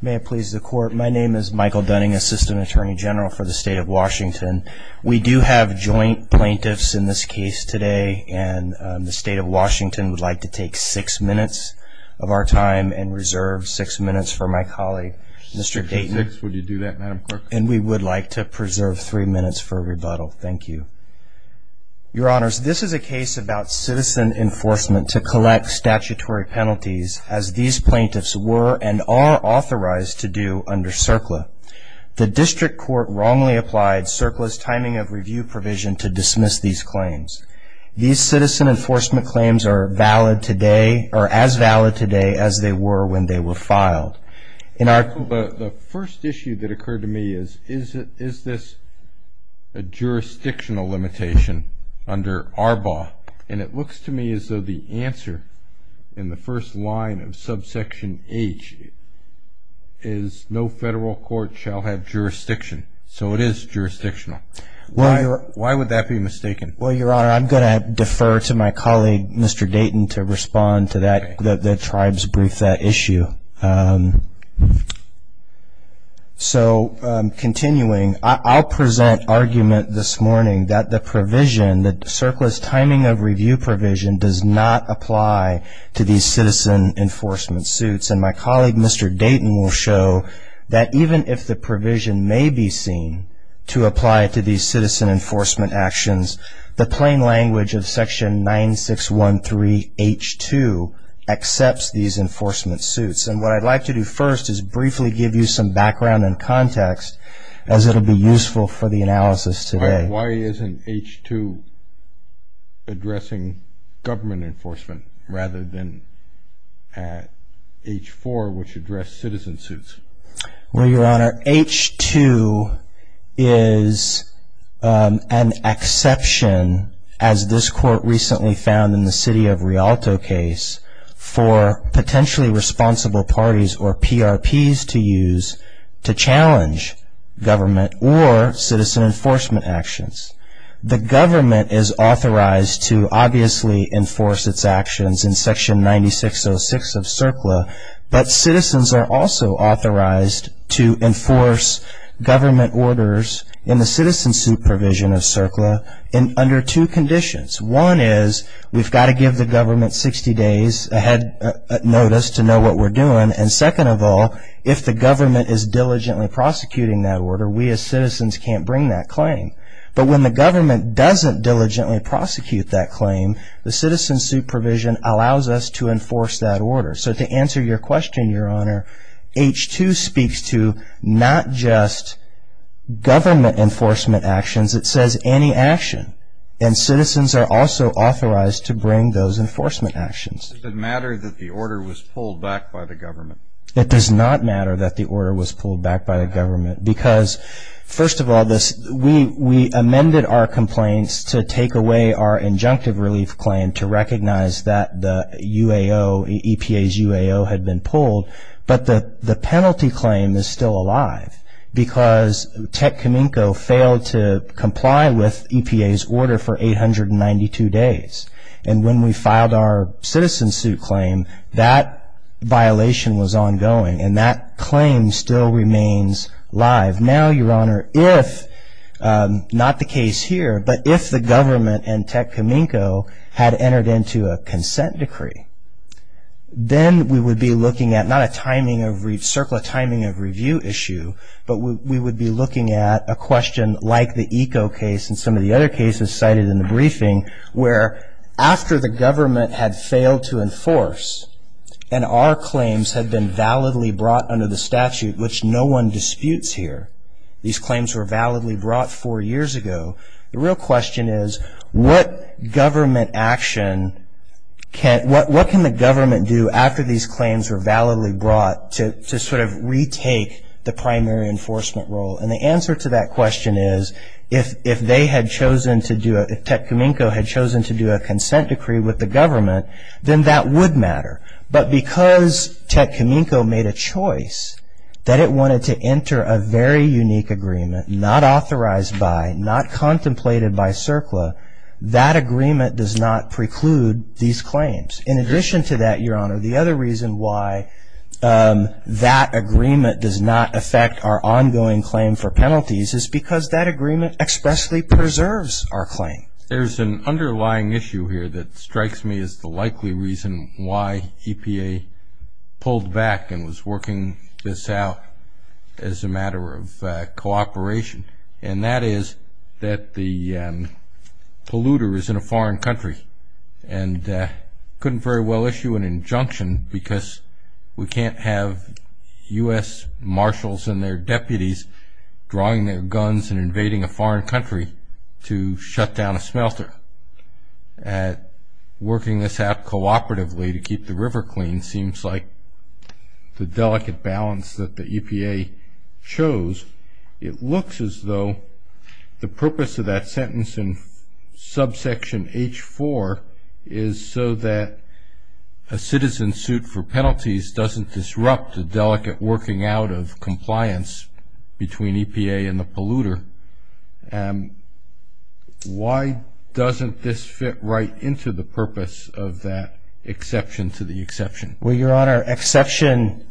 May it please the court, my name is Michael Dunning, Assistant Attorney General for the State of Washington. We do have joint plaintiffs in this case today and the State of Washington would like to take six minutes of our time and reserve six minutes for my colleague, Mr. Dayton. Six minutes, would you do that, Madam Clerk? And we would like to preserve three minutes for rebuttal, thank you. Your Honors, this is a case about citizen enforcement to collect statutory penalties as these plaintiffs were and are authorized to do under CERCLA. The district court wrongly applied CERCLA's timing of review provision to dismiss these claims. These citizen enforcement claims are valid today or as valid today as they were when they were filed. The first issue that occurred to me is, is this a jurisdictional limitation under ARBA? And it looks to me as though the answer in the first line of subsection H is no federal court shall have jurisdiction. So it is jurisdictional. Why would that be mistaken? Well, Your Honor, I'm going to defer to my colleague, Mr. Dayton, to respond to that, the tribe's brief that issue. So continuing, I'll present argument this morning that the provision, that CERCLA's timing of review provision does not apply to these citizen enforcement suits. And my colleague, Mr. Dayton, will show that even if the provision may be seen to apply to these citizen enforcement actions, the plain language of section 9613H2 accepts these enforcement suits. And what I'd like to do first is briefly give you some background and context as it will be useful for the analysis today. Why isn't H2 addressing government enforcement rather than H4, which addressed citizen suits? Well, Your Honor, H2 is an exception, as this court recently found in the city of Rialto case, for potentially responsible parties or PRPs to use to challenge government or citizen enforcement actions. The government is authorized to obviously enforce its actions in section 9606 of CERCLA, but citizens are also authorized to enforce government orders in the citizen suit provision of CERCLA under two conditions. One is we've got to give the government 60 days ahead notice to know what we're doing. And second of all, if the government is diligently prosecuting that order, we as citizens can't bring that claim. But when the government doesn't diligently prosecute that claim, the citizen suit provision allows us to enforce that order. So to answer your question, Your Honor, H2 speaks to not just government enforcement actions. It says any action, and citizens are also authorized to bring those enforcement actions. Does it matter that the order was pulled back by the government? It does not matter that the order was pulled back by the government because, first of all, we amended our complaints to take away our injunctive relief claim to recognize that the UAO, EPA's UAO, had been pulled. But the penalty claim is still alive because Tech Kaminko failed to comply with EPA's order for 892 days. And when we filed our citizen suit claim, that violation was ongoing and that claim still remains live. Now, Your Honor, if not the case here, but if the government and Tech Kaminko had entered into a consent decree, then we would be looking at not a timing of review issue, but we would be looking at a question like the Eco case and some of the other cases cited in the briefing where after the government had failed to enforce and our claims had been validly brought under the statute, which no one disputes here. These claims were validly brought four years ago. The real question is what government action, what can the government do after these claims were validly brought to sort of retake the primary enforcement role? And the answer to that question is if Tech Kaminko had chosen to do a consent decree with the government, then that would matter. But because Tech Kaminko made a choice that it wanted to enter a very unique agreement, not authorized by, not contemplated by CERCLA, that agreement does not preclude these claims. In addition to that, Your Honor, the other reason why that agreement does not affect our ongoing claim for penalties is because that agreement expressly preserves our claim. There's an underlying issue here that strikes me as the likely reason why EPA pulled back and was working this out as a matter of cooperation, and that is that the polluter is in a foreign country and couldn't very well issue an injunction because we can't have U.S. marshals and their deputies drawing their guns and invading a foreign country to shut down a smelter. And working this out cooperatively to keep the river clean seems like the delicate balance that the EPA chose. It looks as though the purpose of that sentence in subsection H4 is so that a citizen's suit for penalties doesn't disrupt the delicate working out of compliance between EPA and the polluter. Why doesn't this fit right into the purpose of that exception to the exception? Well, Your Honor, exception,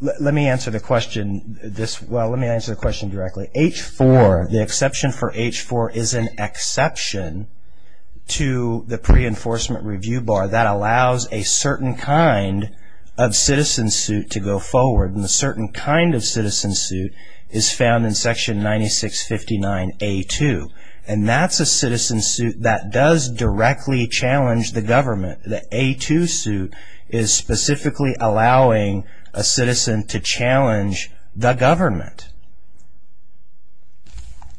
let me answer the question this, well, let me answer the question directly. H4, the exception for H4 is an exception to the pre-enforcement review bar that allows a certain kind of citizen suit to go forward, and a certain kind of citizen suit is found in section 9659A2, and that's a citizen suit that does directly challenge the government. The A2 suit is specifically allowing a citizen to challenge the government.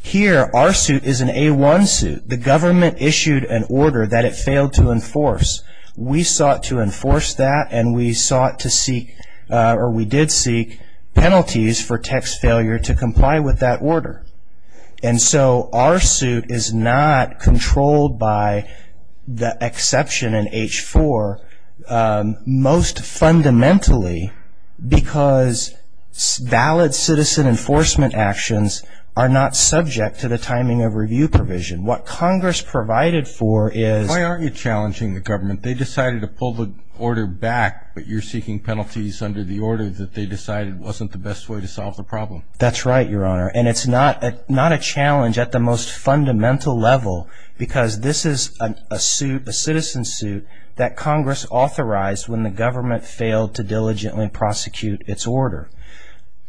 Here, our suit is an A1 suit. The government issued an order that it failed to enforce. We sought to enforce that, and we sought to seek, or we did seek penalties for text failure to comply with that order. And so our suit is not controlled by the exception in H4, most fundamentally because valid citizen enforcement actions are not subject to the timing of review provision. What Congress provided for is... Why aren't you challenging the government? They decided to pull the order back, but you're seeking penalties under the order that they decided wasn't the best way to solve the problem. That's right, Your Honor, and it's not a challenge at the most fundamental level because this is a citizen suit that Congress authorized when the government failed to diligently prosecute its order.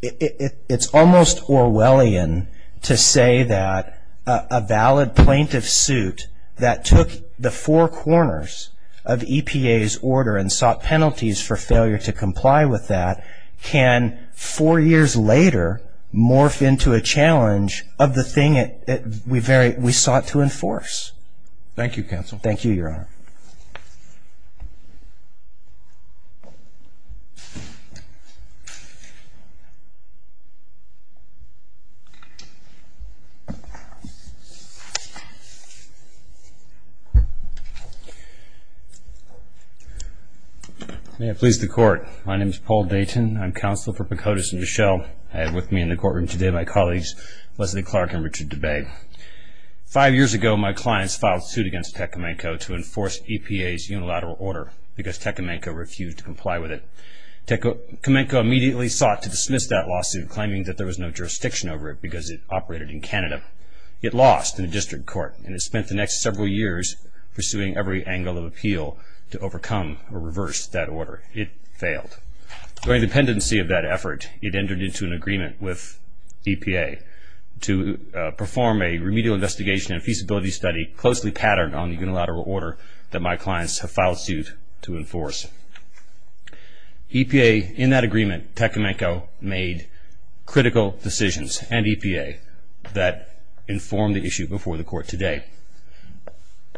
It's almost Orwellian to say that a valid plaintiff suit that took the four corners of EPA's order and sought penalties for failure to comply with that can four years later morph into a challenge of the thing we sought to enforce. Thank you, counsel. Thank you, Your Honor. May it please the Court. My name is Paul Dayton. I'm counsel for Picotus and Duchelle. I have with me in the courtroom today my colleagues Leslie Clark and Richard DeBay. Five years ago, my clients filed a suit against Tecumseh to enforce EPA's unilateral order because Tecumseh refused to comply with it. Tecumseh immediately sought to dismiss that lawsuit, claiming that there was no jurisdiction over it because it operated in Canada. It lost in the district court, and it spent the next several years pursuing every angle of appeal to overcome or reverse that order. It failed. During the pendency of that effort, it entered into an agreement with EPA to perform a remedial investigation and feasibility study closely patterned on the unilateral order that my clients have filed suit to enforce. EPA, in that agreement, Tecumseh made critical decisions, and EPA, that informed the issue before the court today.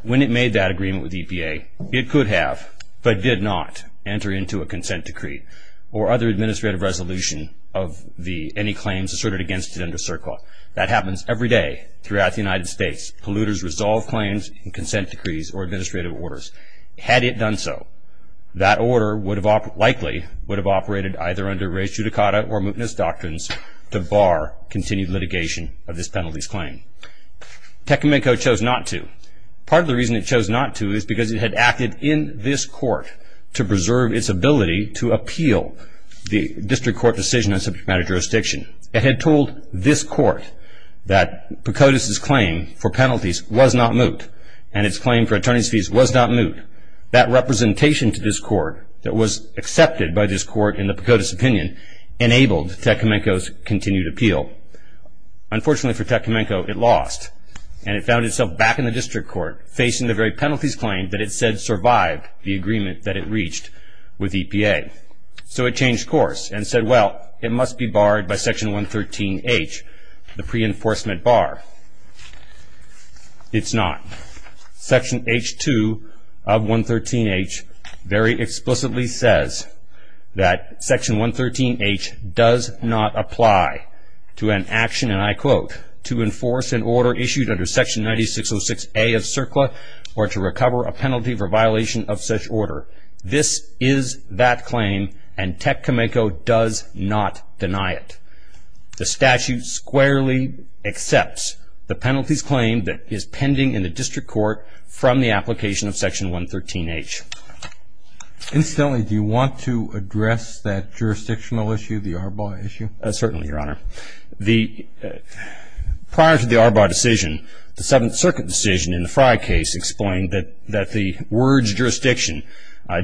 When it made that agreement with EPA, it could have but did not enter into a consent decree or other administrative resolution of any claims asserted against it under CERCLA. That happens every day throughout the United States. Polluters resolve claims in consent decrees or administrative orders. Had it done so, that order likely would have operated either under res judicata or mootness doctrines to bar continued litigation of this penalty's claim. Tecumseh chose not to. Part of the reason it chose not to is because it had acted in this court to preserve its ability to appeal the district court decision on subject matter jurisdiction. It had told this court that Pocotus's claim for penalties was not moot, and its claim for attorney's fees was not moot. That representation to this court that was accepted by this court in the Pocotus opinion enabled Tecumseh's continued appeal. Unfortunately for Tecumseh, it lost, and it found itself back in the district court facing the very penalties claim that it said survived the agreement that it reached with EPA. So it changed course and said, well, it must be barred by Section 113H, the pre-enforcement bar. It's not. Section H2 of 113H very explicitly says that Section 113H does not apply to an action, and I quote, to enforce an order issued under Section 9606A of CERCLA or to recover a penalty for violation of such order. This is that claim, and Tecumseh does not deny it. The statute squarely accepts the penalties claim that is pending in the district court from the application of Section 113H. Incidentally, do you want to address that jurisdictional issue, the Arbaugh issue? Certainly, Your Honor. Prior to the Arbaugh decision, the Seventh Circuit decision in the Frye case explained that the words jurisdiction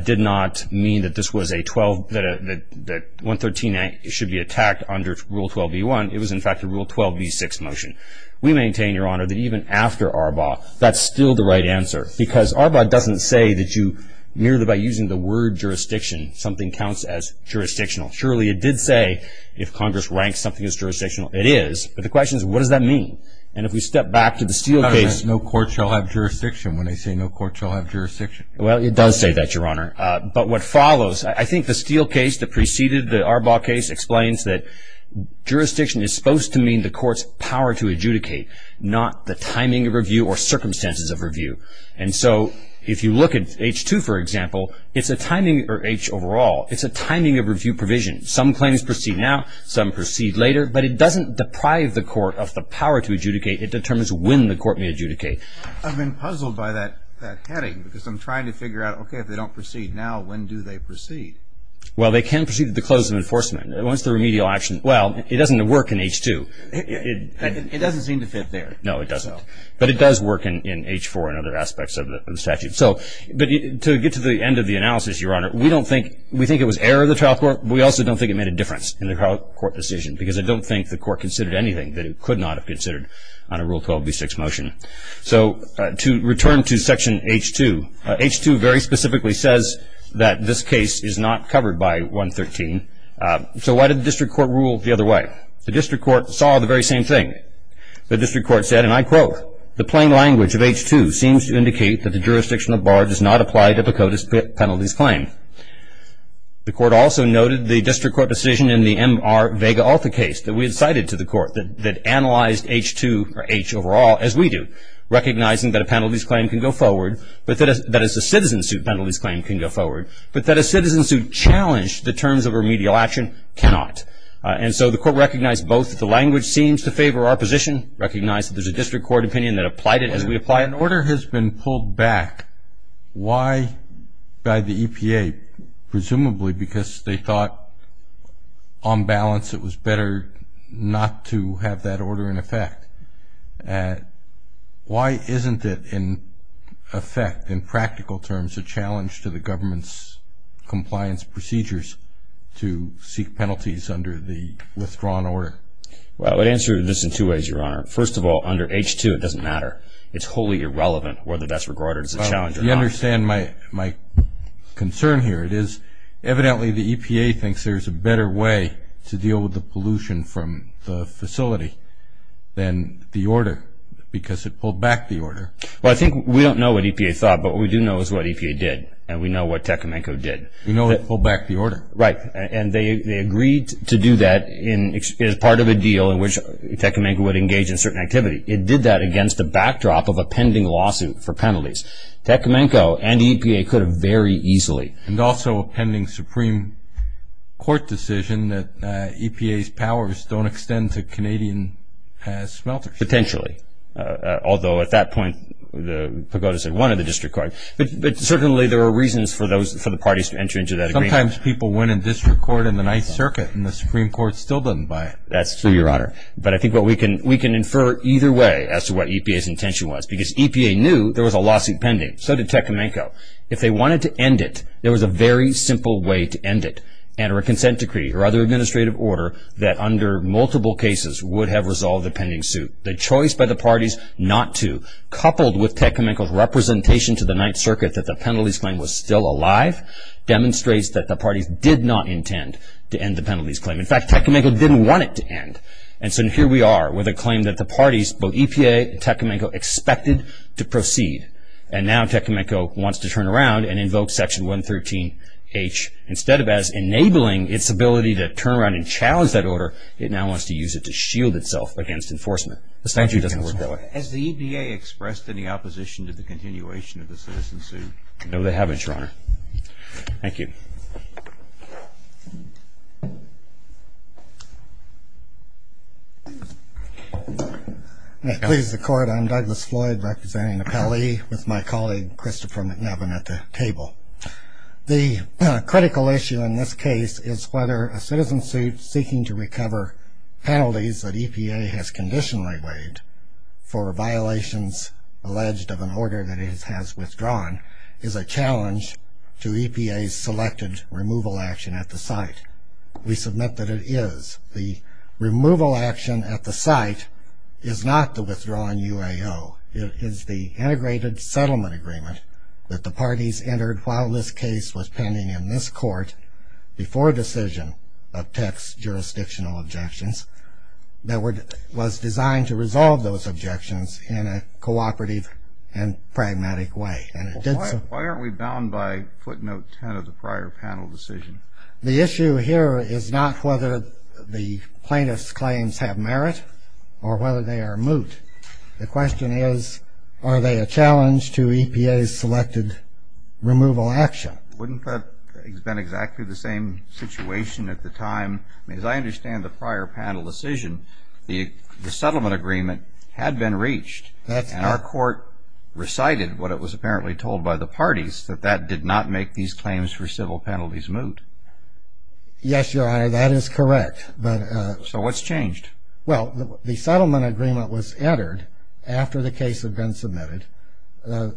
did not mean that this was a 12, that 113A should be attacked under Rule 12b-1. It was, in fact, a Rule 12b-6 motion. We maintain, Your Honor, that even after Arbaugh, that's still the right answer because Arbaugh doesn't say that you merely by using the word jurisdiction, something counts as jurisdictional. Surely it did say if Congress ranks something as jurisdictional. It is, but the question is, what does that mean? And if we step back to the Steele case. No court shall have jurisdiction when they say no court shall have jurisdiction. Well, it does say that, Your Honor. But what follows, I think the Steele case that preceded the Arbaugh case explains that jurisdiction is supposed to mean the court's power to adjudicate, not the timing of review or circumstances of review. And so if you look at H-2, for example, it's a timing, or H overall, it's a timing of review provision. Some claims proceed now, some proceed later, but it doesn't deprive the court of the power to adjudicate. It determines when the court may adjudicate. I've been puzzled by that heading because I'm trying to figure out, okay, if they don't proceed now, when do they proceed? Well, they can proceed at the close of enforcement. Once the remedial action, well, it doesn't work in H-2. It doesn't seem to fit there. No, it doesn't. But it does work in H-4 and other aspects of the statute. So to get to the end of the analysis, Your Honor, we don't think, we think it was error of the trial court. We also don't think it made a difference in the trial court decision because I don't think the court considered anything that it could not have considered on a Rule 12b6 motion. So to return to Section H-2, H-2 very specifically says that this case is not covered by 113. So why did the district court rule the other way? The district court saw the very same thing. The district court said, and I quote, the plain language of H-2 seems to indicate that the jurisdiction of bar does not apply to the CODIS penalties claim. The court also noted the district court decision in the MR Vega-Alta case that we had cited to the court that analyzed H-2 or H overall, as we do, recognizing that a penalties claim can go forward, but that a citizen suit penalties claim can go forward, but that a citizen suit challenged the terms of remedial action cannot. And so the court recognized both that the language seems to favor our position, recognized that there's a district court opinion that applied it as we apply it. If an order has been pulled back, why by the EPA, presumably because they thought on balance it was better not to have that order in effect, why isn't it in effect, in practical terms, a challenge to the government's compliance procedures to seek penalties under the withdrawn order? Well, I would answer this in two ways, Your Honor. First of all, under H-2 it doesn't matter. It's wholly irrelevant whether that's regarded as a challenge or not. You understand my concern here. It is evidently the EPA thinks there's a better way to deal with the pollution from the facility than the order because it pulled back the order. Well, I think we don't know what EPA thought, but what we do know is what EPA did, and we know what Tecumenco did. We know it pulled back the order. Right. And they agreed to do that as part of a deal in which Tecumenco would engage in certain activity. It did that against the backdrop of a pending lawsuit for penalties. Tecumenco and EPA could have very easily. And also a pending Supreme Court decision that EPA's powers don't extend to Canadian smelters. Potentially, although at that point the pagodas had won in the district court. But certainly there are reasons for the parties to enter into that agreement. Sometimes people win in district court in the Ninth Circuit and the Supreme Court still doesn't buy it. That's true, Your Honor. But I think we can infer either way as to what EPA's intention was. Because EPA knew there was a lawsuit pending. So did Tecumenco. If they wanted to end it, there was a very simple way to end it. Enter a consent decree or other administrative order that under multiple cases would have resolved the pending suit. The choice by the parties not to, coupled with Tecumenco's representation to the Ninth Circuit that the penalties claim was still alive, demonstrates that the parties did not intend to end the penalties claim. In fact, Tecumenco didn't want it to end. And so here we are with a claim that the parties, both EPA and Tecumenco, expected to proceed. And now Tecumenco wants to turn around and invoke Section 113H. Instead of as enabling its ability to turn around and challenge that order, it now wants to use it to shield itself against enforcement. The statute doesn't work that way. Has the EPA expressed any opposition to the continuation of the citizen suit? No, they haven't, Your Honor. Thank you. Please, the Court. I'm Douglas Floyd, representing the Pelley, with my colleague Christopher McNevin at the table. The critical issue in this case is whether a citizen suit seeking to recover penalties that EPA has conditionally waived for violations alleged of an order that it has withdrawn is a challenge to EPA's selected removal action at the site. We submit that it is. The removal action at the site is not the withdrawn UAO. It is the integrated settlement agreement that the parties entered while this case was pending in this court before decision of Tec's jurisdictional objections that was designed to resolve those objections in a cooperative and pragmatic way. Why aren't we bound by footnote 10 of the prior panel decision? The issue here is not whether the plaintiff's claims have merit or whether they are moot. The question is, are they a challenge to EPA's selected removal action? Wouldn't that have been exactly the same situation at the time? As I understand the prior panel decision, the settlement agreement had been reached, and our court recited what it was apparently told by the parties, that that did not make these claims for civil penalties moot. Yes, Your Honor, that is correct. So what's changed? Well, the settlement agreement was entered after the case had been submitted.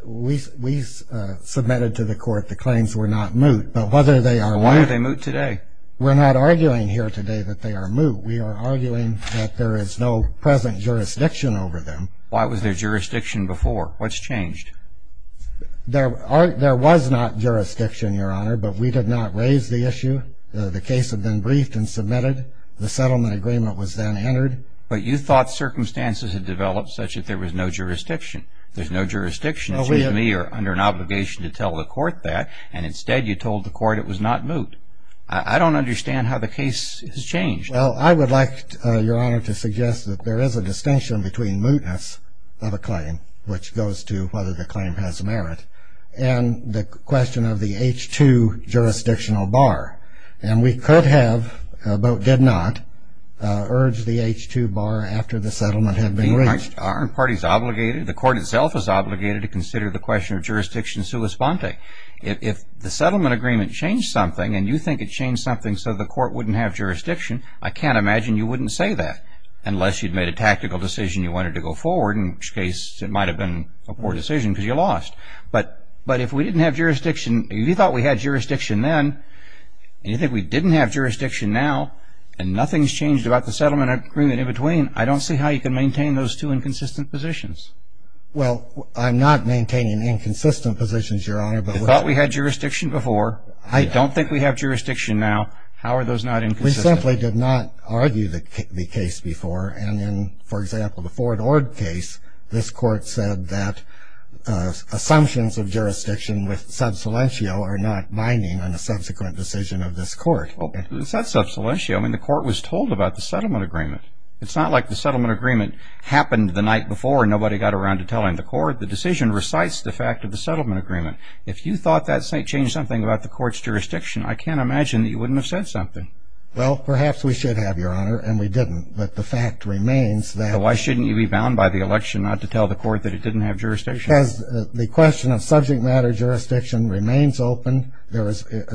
We submitted to the court the claims were not moot. But whether they are moot. Why are they moot today? We're not arguing here today that they are moot. We are arguing that there is no present jurisdiction over them. Why was there jurisdiction before? What's changed? There was not jurisdiction, Your Honor, but we did not raise the issue. The case had been briefed and submitted. The settlement agreement was then entered. But you thought circumstances had developed such that there was no jurisdiction. There's no jurisdiction, excuse me, under an obligation to tell the court that, and instead you told the court it was not moot. I don't understand how the case has changed. Well, I would like, Your Honor, to suggest that there is a distinction between mootness of a claim, which goes to whether the claim has merit, and the question of the H-2 jurisdictional bar. And we could have, but did not, urge the H-2 bar after the settlement had been reached. Aren't parties obligated? The court itself is obligated to consider the question of jurisdiction sua sponte. If the settlement agreement changed something, and you think it changed something so the court wouldn't have jurisdiction, I can't imagine you wouldn't say that unless you'd made a tactical decision you wanted to go forward, in which case it might have been a poor decision because you lost. But if we didn't have jurisdiction, if you thought we had jurisdiction then, and you think we didn't have jurisdiction now, and nothing's changed about the settlement agreement in between, I don't see how you can maintain those two inconsistent positions. Well, I'm not maintaining inconsistent positions, Your Honor. You thought we had jurisdiction before. You don't think we have jurisdiction now. How are those not inconsistent? We simply did not argue the case before. And in, for example, the Ford Ord case, this court said that assumptions of jurisdiction with sub salientio are not binding on a subsequent decision of this court. Well, it's not sub salientio. I mean, the court was told about the settlement agreement. It's not like the settlement agreement happened the night before and nobody got around to telling the court. The decision recites the fact of the settlement agreement. If you thought that changed something about the court's jurisdiction, I can't imagine that you wouldn't have said something. Well, perhaps we should have, Your Honor, and we didn't. But the fact remains that... So why shouldn't you be bound by the election not to tell the court that it didn't have jurisdiction? Because the question of subject matter jurisdiction remains open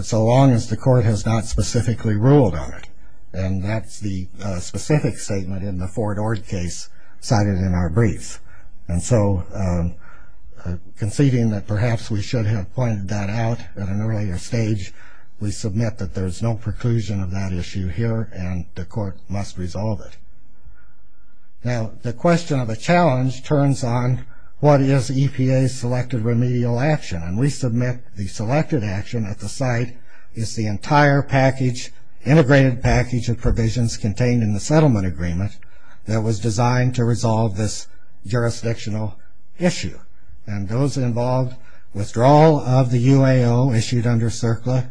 so long as the court has not specifically ruled on it. And that's the specific statement in the Ford Ord case cited in our briefs. And so conceding that perhaps we should have pointed that out at an earlier stage, we submit that there's no preclusion of that issue here and the court must resolve it. Now, the question of a challenge turns on what is EPA's selected remedial action. And we submit the selected action at the site is the entire package, integrated package of provisions contained in the settlement agreement that was designed to resolve this jurisdictional issue. And those involved withdrawal of the UAO issued under CERCLA.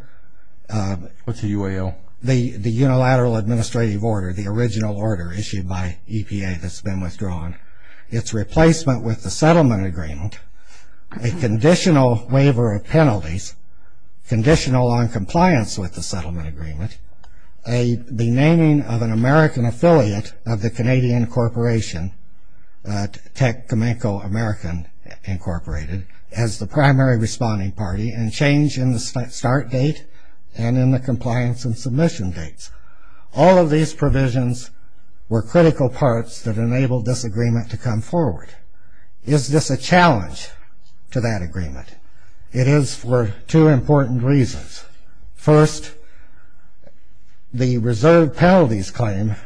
What's a UAO? The unilateral administrative order, the original order issued by EPA that's been withdrawn. Its replacement with the settlement agreement, a conditional waiver of penalties, conditional on compliance with the settlement agreement, the naming of an American affiliate of the Canadian corporation, TEC Cominco American Incorporated as the primary responding party and change in the start date and in the compliance and submission dates. All of these provisions were critical parts that enabled this agreement to come forward. Is this a challenge to that agreement? It is for two important reasons. First, the reserve penalties claim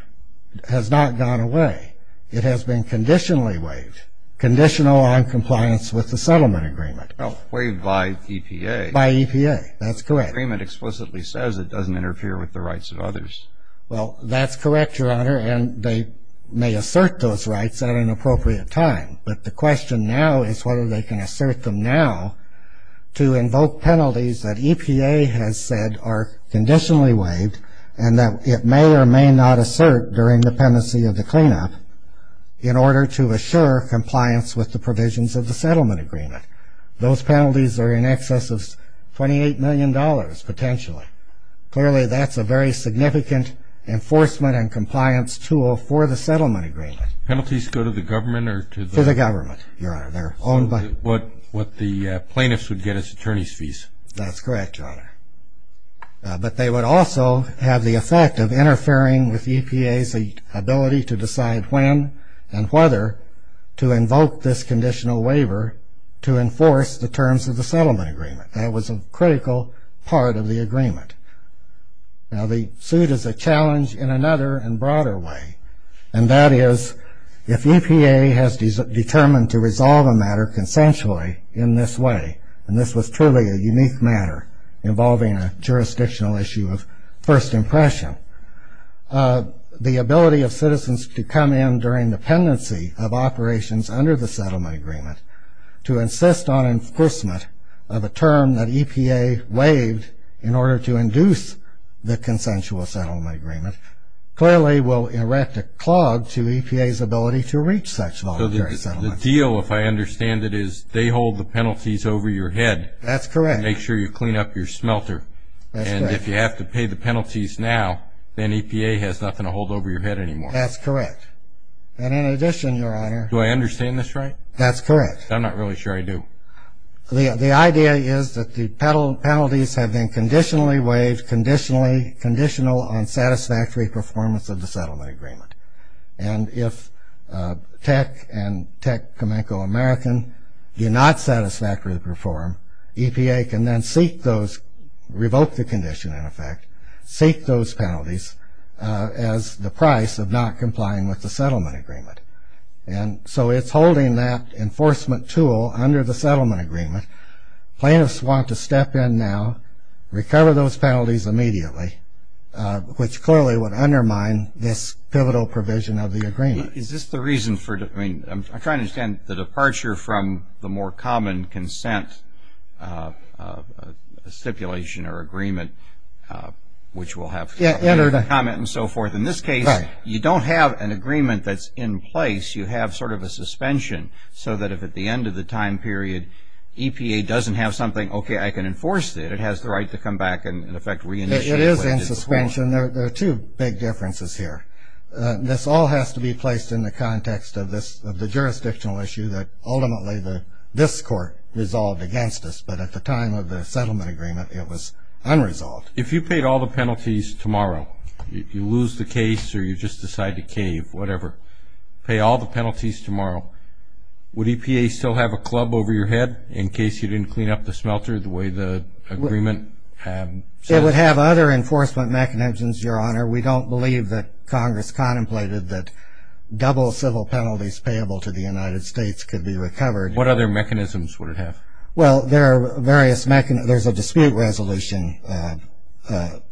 has not gone away. It has been conditionally waived, conditional on compliance with the settlement agreement. Waived by EPA. By EPA. That's correct. The agreement explicitly says it doesn't interfere with the rights of others. Well, that's correct, Your Honor, and they may assert those rights at an appropriate time. But the question now is whether they can assert them now to invoke penalties that EPA has said are conditionally waived and that it may or may not assert during dependency of the cleanup in order to assure compliance with the provisions of the settlement agreement. Those penalties are in excess of $28 million, potentially. Clearly, that's a very significant enforcement and compliance tool for the settlement agreement. Penalties go to the government or to the? To the government, Your Honor. What the plaintiffs would get is attorney's fees. That's correct, Your Honor. But they would also have the effect of interfering with EPA's ability to decide when and whether to invoke this conditional waiver to enforce the terms of the settlement agreement. That was a critical part of the agreement. Now, the suit is a challenge in another and broader way, and that is if EPA has determined to resolve a matter consensually in this way, and this was truly a unique matter involving a jurisdictional issue of first impression, the ability of citizens to come in during dependency of operations under the settlement agreement to insist on enforcement of a term that EPA waived in order to induce the consensual settlement agreement clearly will erect a clog to EPA's ability to reach such voluntary settlement. So the deal, if I understand it, is they hold the penalties over your head. That's correct. And make sure you clean up your smelter. That's correct. And if you have to pay the penalties now, then EPA has nothing to hold over your head anymore. That's correct. And in addition, Your Honor. Do I understand this right? That's correct. I'm not really sure I do. The idea is that the penalties have been conditionally waived, conditional on satisfactory performance of the settlement agreement. And if Tech and Tech Comanco American do not satisfactorily perform, EPA can then seek those, revoke the condition in effect, seek those penalties as the price of not complying with the settlement agreement. And so it's holding that enforcement tool under the settlement agreement. Plaintiffs want to step in now, recover those penalties immediately, which clearly would undermine this pivotal provision of the agreement. Is this the reason for, I mean, I'm trying to understand the departure from the more common consent stipulation or agreement, which will have comment and so forth. In this case, you don't have an agreement that's in place. You have sort of a suspension so that if at the end of the time period, EPA doesn't have something, okay, I can enforce it. It has the right to come back and, in effect, reinitiate. It is in suspension. There are two big differences here. This all has to be placed in the context of the jurisdictional issue that ultimately this court resolved against us. But at the time of the settlement agreement, it was unresolved. If you paid all the penalties tomorrow, you lose the case or you just decide to cave, whatever, pay all the penalties tomorrow, would EPA still have a club over your head in case you didn't clean up the smelter the way the agreement says? It would have other enforcement mechanisms, Your Honor. We don't believe that Congress contemplated that double civil penalties payable to the United States could be recovered. What other mechanisms would it have? Well, there are various mechanisms. There's a dispute resolution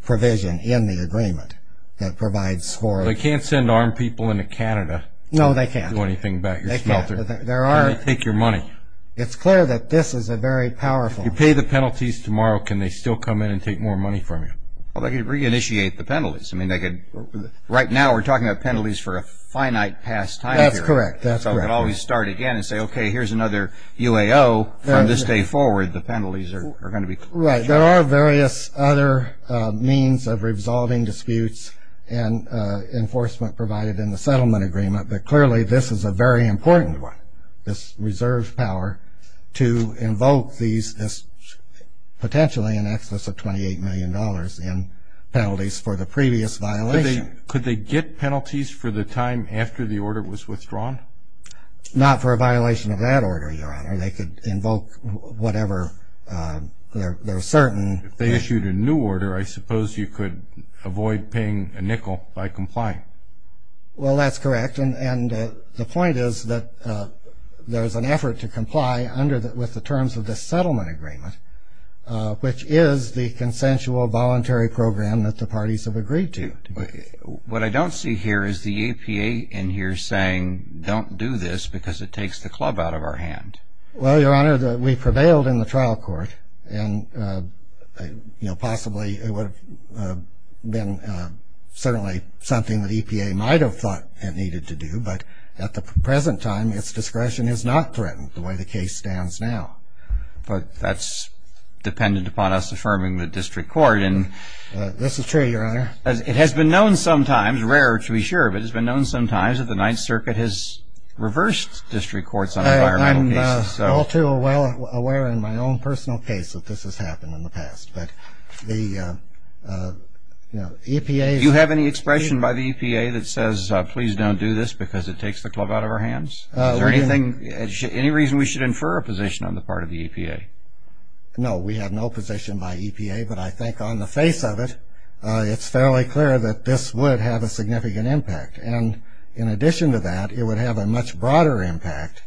provision in the agreement that provides for it. They can't send armed people into Canada. No, they can't. Do anything about your smelter. They can't. How do you take your money? It's clear that this is a very powerful. If you pay the penalties tomorrow, can they still come in and take more money from you? Well, they could reinitiate the penalties. I mean, right now we're talking about penalties for a finite past time period. That's correct. So we can always start again and say, okay, here's another UAO from this day forward. The penalties are going to be clear. Right. There are various other means of resolving disputes and enforcement provided in the settlement agreement, but clearly this is a very important one, this reserve power, to invoke this potentially in excess of $28 million in penalties for the previous violation. Could they get penalties for the time after the order was withdrawn? Not for a violation of that order, Your Honor. They could invoke whatever they're certain. If they issued a new order, I suppose you could avoid paying a nickel by complying. Well, that's correct. And the point is that there's an effort to comply with the terms of this settlement agreement, which is the consensual voluntary program that the parties have agreed to. What I don't see here is the EPA in here saying don't do this because it takes the club out of our hand. Well, Your Honor, we prevailed in the trial court, and possibly it would have been certainly something the EPA might have thought it needed to do, but at the present time its discretion is not threatened the way the case stands now. But that's dependent upon us affirming the district court. This is true, Your Honor. It has been known sometimes, rarer to be sure of it, it has been known sometimes that the Ninth Circuit has reversed district courts on environmental cases. I'm all too well aware in my own personal case that this has happened in the past. But the EPA... Do you have any expression by the EPA that says please don't do this because it takes the club out of our hands? Is there any reason we should infer a position on the part of the EPA? No, we have no position by EPA, but I think on the face of it, it's fairly clear that this would have a significant impact. And in addition to that, it would have a much broader impact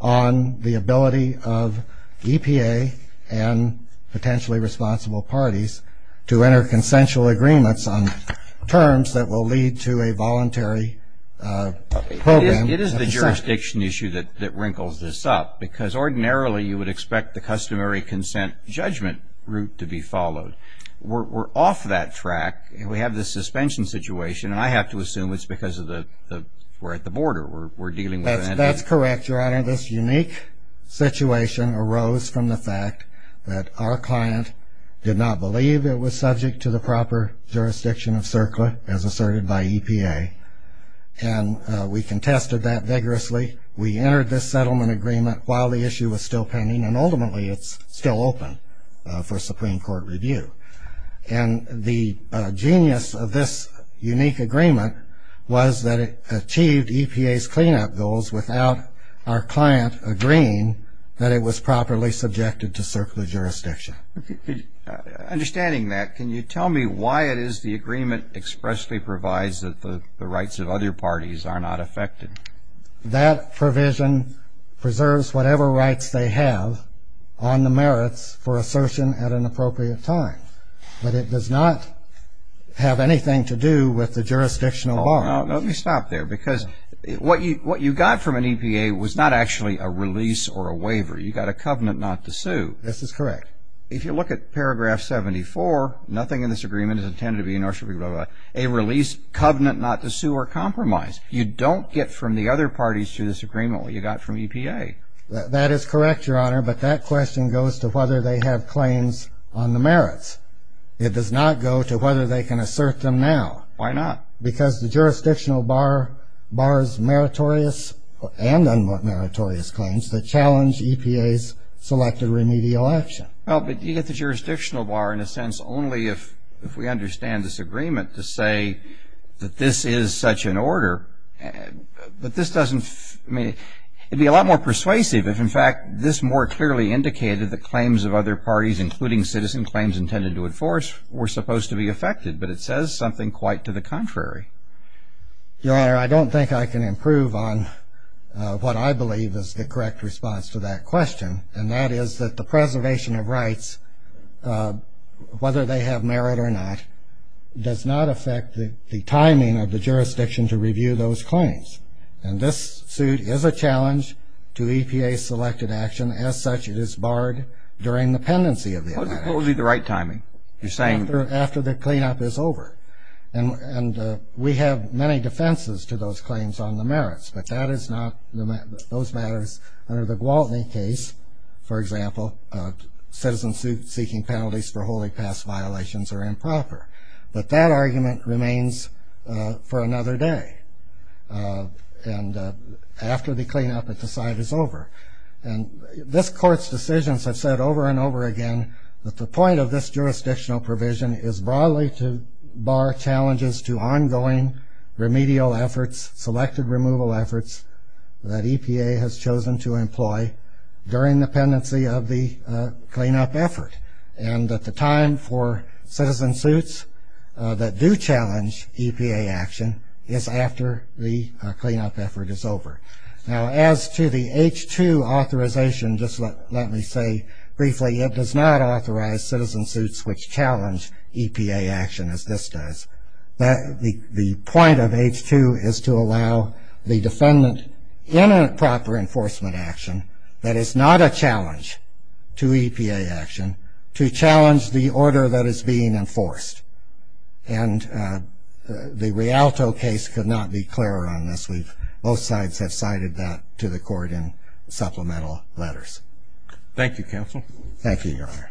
on the ability of EPA and potentially responsible parties to enter consensual agreements on terms that will lead to a voluntary program. It is the jurisdiction issue that wrinkles this up, because ordinarily you would expect the customary consent judgment route to be followed. We're off that track. We have the suspension situation, and I have to assume it's because we're at the border. That's correct, Your Honor. This unique situation arose from the fact that our client did not believe it was subject to the proper jurisdiction of CERCLA, as asserted by EPA. And we contested that vigorously. We entered this settlement agreement while the issue was still pending, and ultimately it's still open for Supreme Court review. And the genius of this unique agreement was that it achieved EPA's cleanup goals without our client agreeing that it was properly subjected to CERCLA jurisdiction. Understanding that, can you tell me why it is the agreement expressly provides that the rights of other parties are not affected? That provision preserves whatever rights they have on the merits for assertion at an appropriate time. But it does not have anything to do with the jurisdictional bar. Let me stop there, because what you got from an EPA was not actually a release or a waiver. You got a covenant not to sue. This is correct. If you look at paragraph 74, nothing in this agreement is intended to be a release covenant not to sue or compromise. You don't get from the other parties to this agreement what you got from EPA. That is correct, Your Honor, but that question goes to whether they have claims on the merits. It does not go to whether they can assert them now. Why not? Because the jurisdictional bar bars meritorious and unmeritorious claims that challenge EPA's selected remedial action. Well, but you get the jurisdictional bar in a sense only if we understand this agreement to say that this is such an order. But this doesn't mean it would be a lot more persuasive if, in fact, this more clearly indicated that claims of other parties, including citizen claims intended to enforce, were supposed to be affected. But it says something quite to the contrary. Your Honor, I don't think I can improve on what I believe is the correct response to that question, and that is that the preservation of rights, whether they have merit or not, does not affect the timing of the jurisdiction to review those claims. And this suit is a challenge to EPA's selected action. As such, it is barred during the pendency of the amendment. What would be the right timing? After the cleanup is over. And we have many defenses to those claims on the merits, but that is not those matters. Under the Gwaltney case, for example, citizens seeking penalties for holy past violations are improper. But that argument remains for another day. And after the cleanup at the site is over. And this Court's decisions have said over and over again that the point of this jurisdictional provision is broadly to bar challenges to ongoing remedial efforts, selected removal efforts, that EPA has chosen to employ during the pendency of the cleanup effort. And that the time for citizen suits that do challenge EPA action is after the cleanup effort is over. Now, as to the H-2 authorization, just let me say briefly, it does not authorize citizen suits which challenge EPA action as this does. The point of H-2 is to allow the defendant in a proper enforcement action that is not a challenge to EPA action, to challenge the order that is being enforced. And the Rialto case could not be clearer on this. I believe both sides have cited that to the Court in supplemental letters. Thank you, Counsel. Thank you, Your Honor.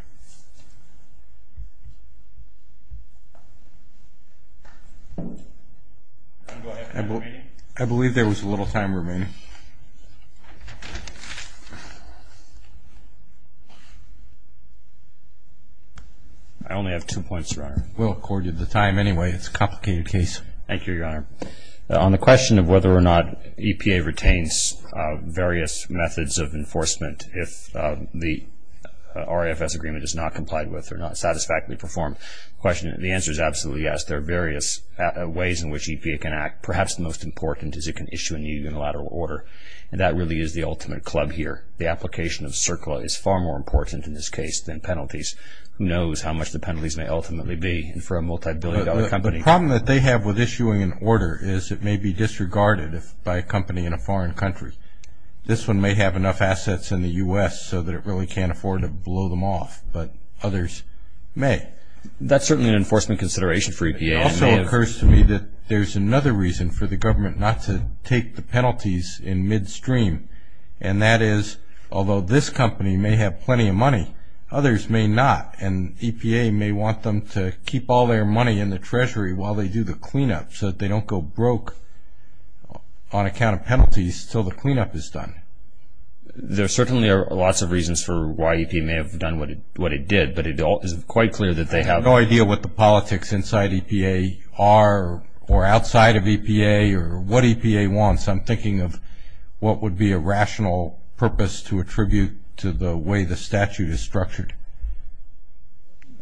I believe there was a little time remaining. I only have two points, Your Honor. We'll accord you the time anyway. It's a complicated case. Thank you, Your Honor. On the question of whether or not EPA retains various methods of enforcement if the RAFS agreement is not complied with or not satisfactorily performed, the answer is absolutely yes. There are various ways in which EPA can act. Perhaps the most important is it can issue a new unilateral order, and that really is the ultimate club here. The application of CERCLA is far more important in this case than penalties. Who knows how much the penalties may ultimately be for a multibillion-dollar company. The problem that they have with issuing an order is it may be disregarded by a company in a foreign country. This one may have enough assets in the U.S. so that it really can't afford to blow them off, but others may. That's certainly an enforcement consideration for EPA. It also occurs to me that there's another reason for the government not to take the penalties in midstream, and that is although this company may have plenty of money, others may not, and EPA may want them to keep all their money in the Treasury while they do the cleanup so that they don't go broke on account of penalties until the cleanup is done. There certainly are lots of reasons for why EPA may have done what it did, but it is quite clear that they have no idea what the politics inside EPA are or outside of EPA or what EPA wants. I'm thinking of what would be a rational purpose to attribute to the way the statute is structured.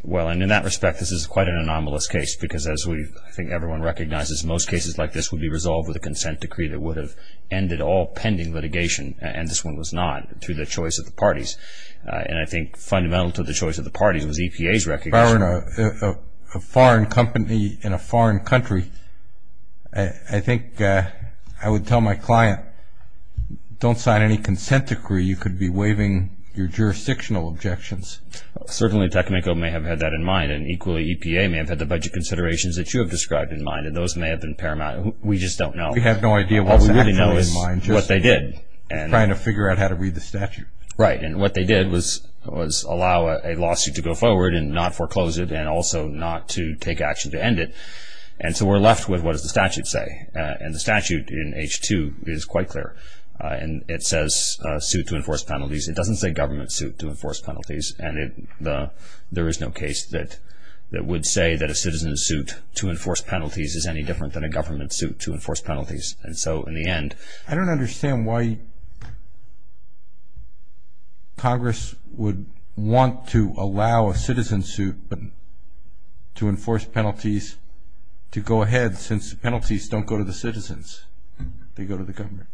Well, and in that respect, this is quite an anomalous case because, as I think everyone recognizes, most cases like this would be resolved with a consent decree that would have ended all pending litigation, and this one was not through the choice of the parties. And I think fundamental to the choice of the parties was EPA's recognition. If I were in a foreign company in a foreign country, I think I would tell my client, don't sign any consent decree. You could be waiving your jurisdictional objections. Certainly, Tecnico may have had that in mind, and equally EPA may have had the budget considerations that you have described in mind, and those may have been paramount. We just don't know. We have no idea. All we really know is what they did. Trying to figure out how to read the statute. Right, and what they did was allow a lawsuit to go forward and not foreclose it and also not to take action to end it. And so we're left with what does the statute say. And the statute in H-2 is quite clear. It says, suit to enforce penalties. It doesn't say government suit to enforce penalties, and there is no case that would say that a citizen's suit to enforce penalties is any different than a government suit to enforce penalties. I don't understand why Congress would want to allow a citizen suit to enforce penalties to go ahead since the penalties don't go to the citizens. They go to the government.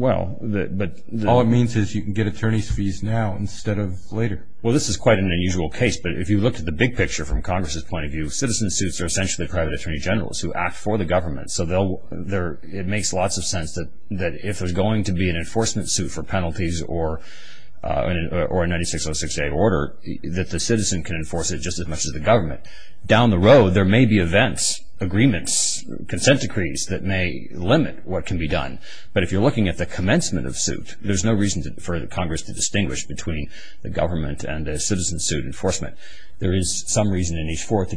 All it means is you can get attorney's fees now instead of later. Well, this is quite an unusual case, but if you looked at the big picture from Congress's point of view, citizen suits are essentially private attorney generals who act for the government. So it makes lots of sense that if there's going to be an enforcement suit for penalties or a 9606A order, that the citizen can enforce it just as much as the government. Down the road, there may be events, agreements, consent decrees that may limit what can be done. But if you're looking at the commencement of suit, there's no reason for Congress to distinguish between the government and a citizen suit enforcement. There is some reason in H4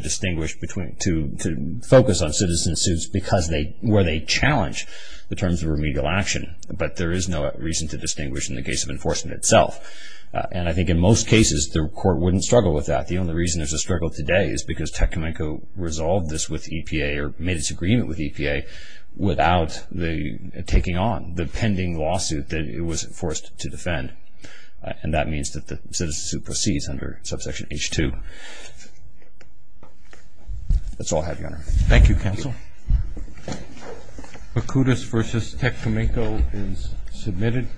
to focus on citizen suits where they challenge the terms of remedial action, but there is no reason to distinguish in the case of enforcement itself. And I think in most cases, the court wouldn't struggle with that. The only reason there's a struggle today is because Tecumseh resolved this with EPA or made its agreement with EPA without taking on the pending lawsuit that it was forced to defend. And that means that the citizen suit proceeds under subsection H2. That's all I have, Your Honor. Thank you, Counsel. Mercutus v. Tecumseh is submitted.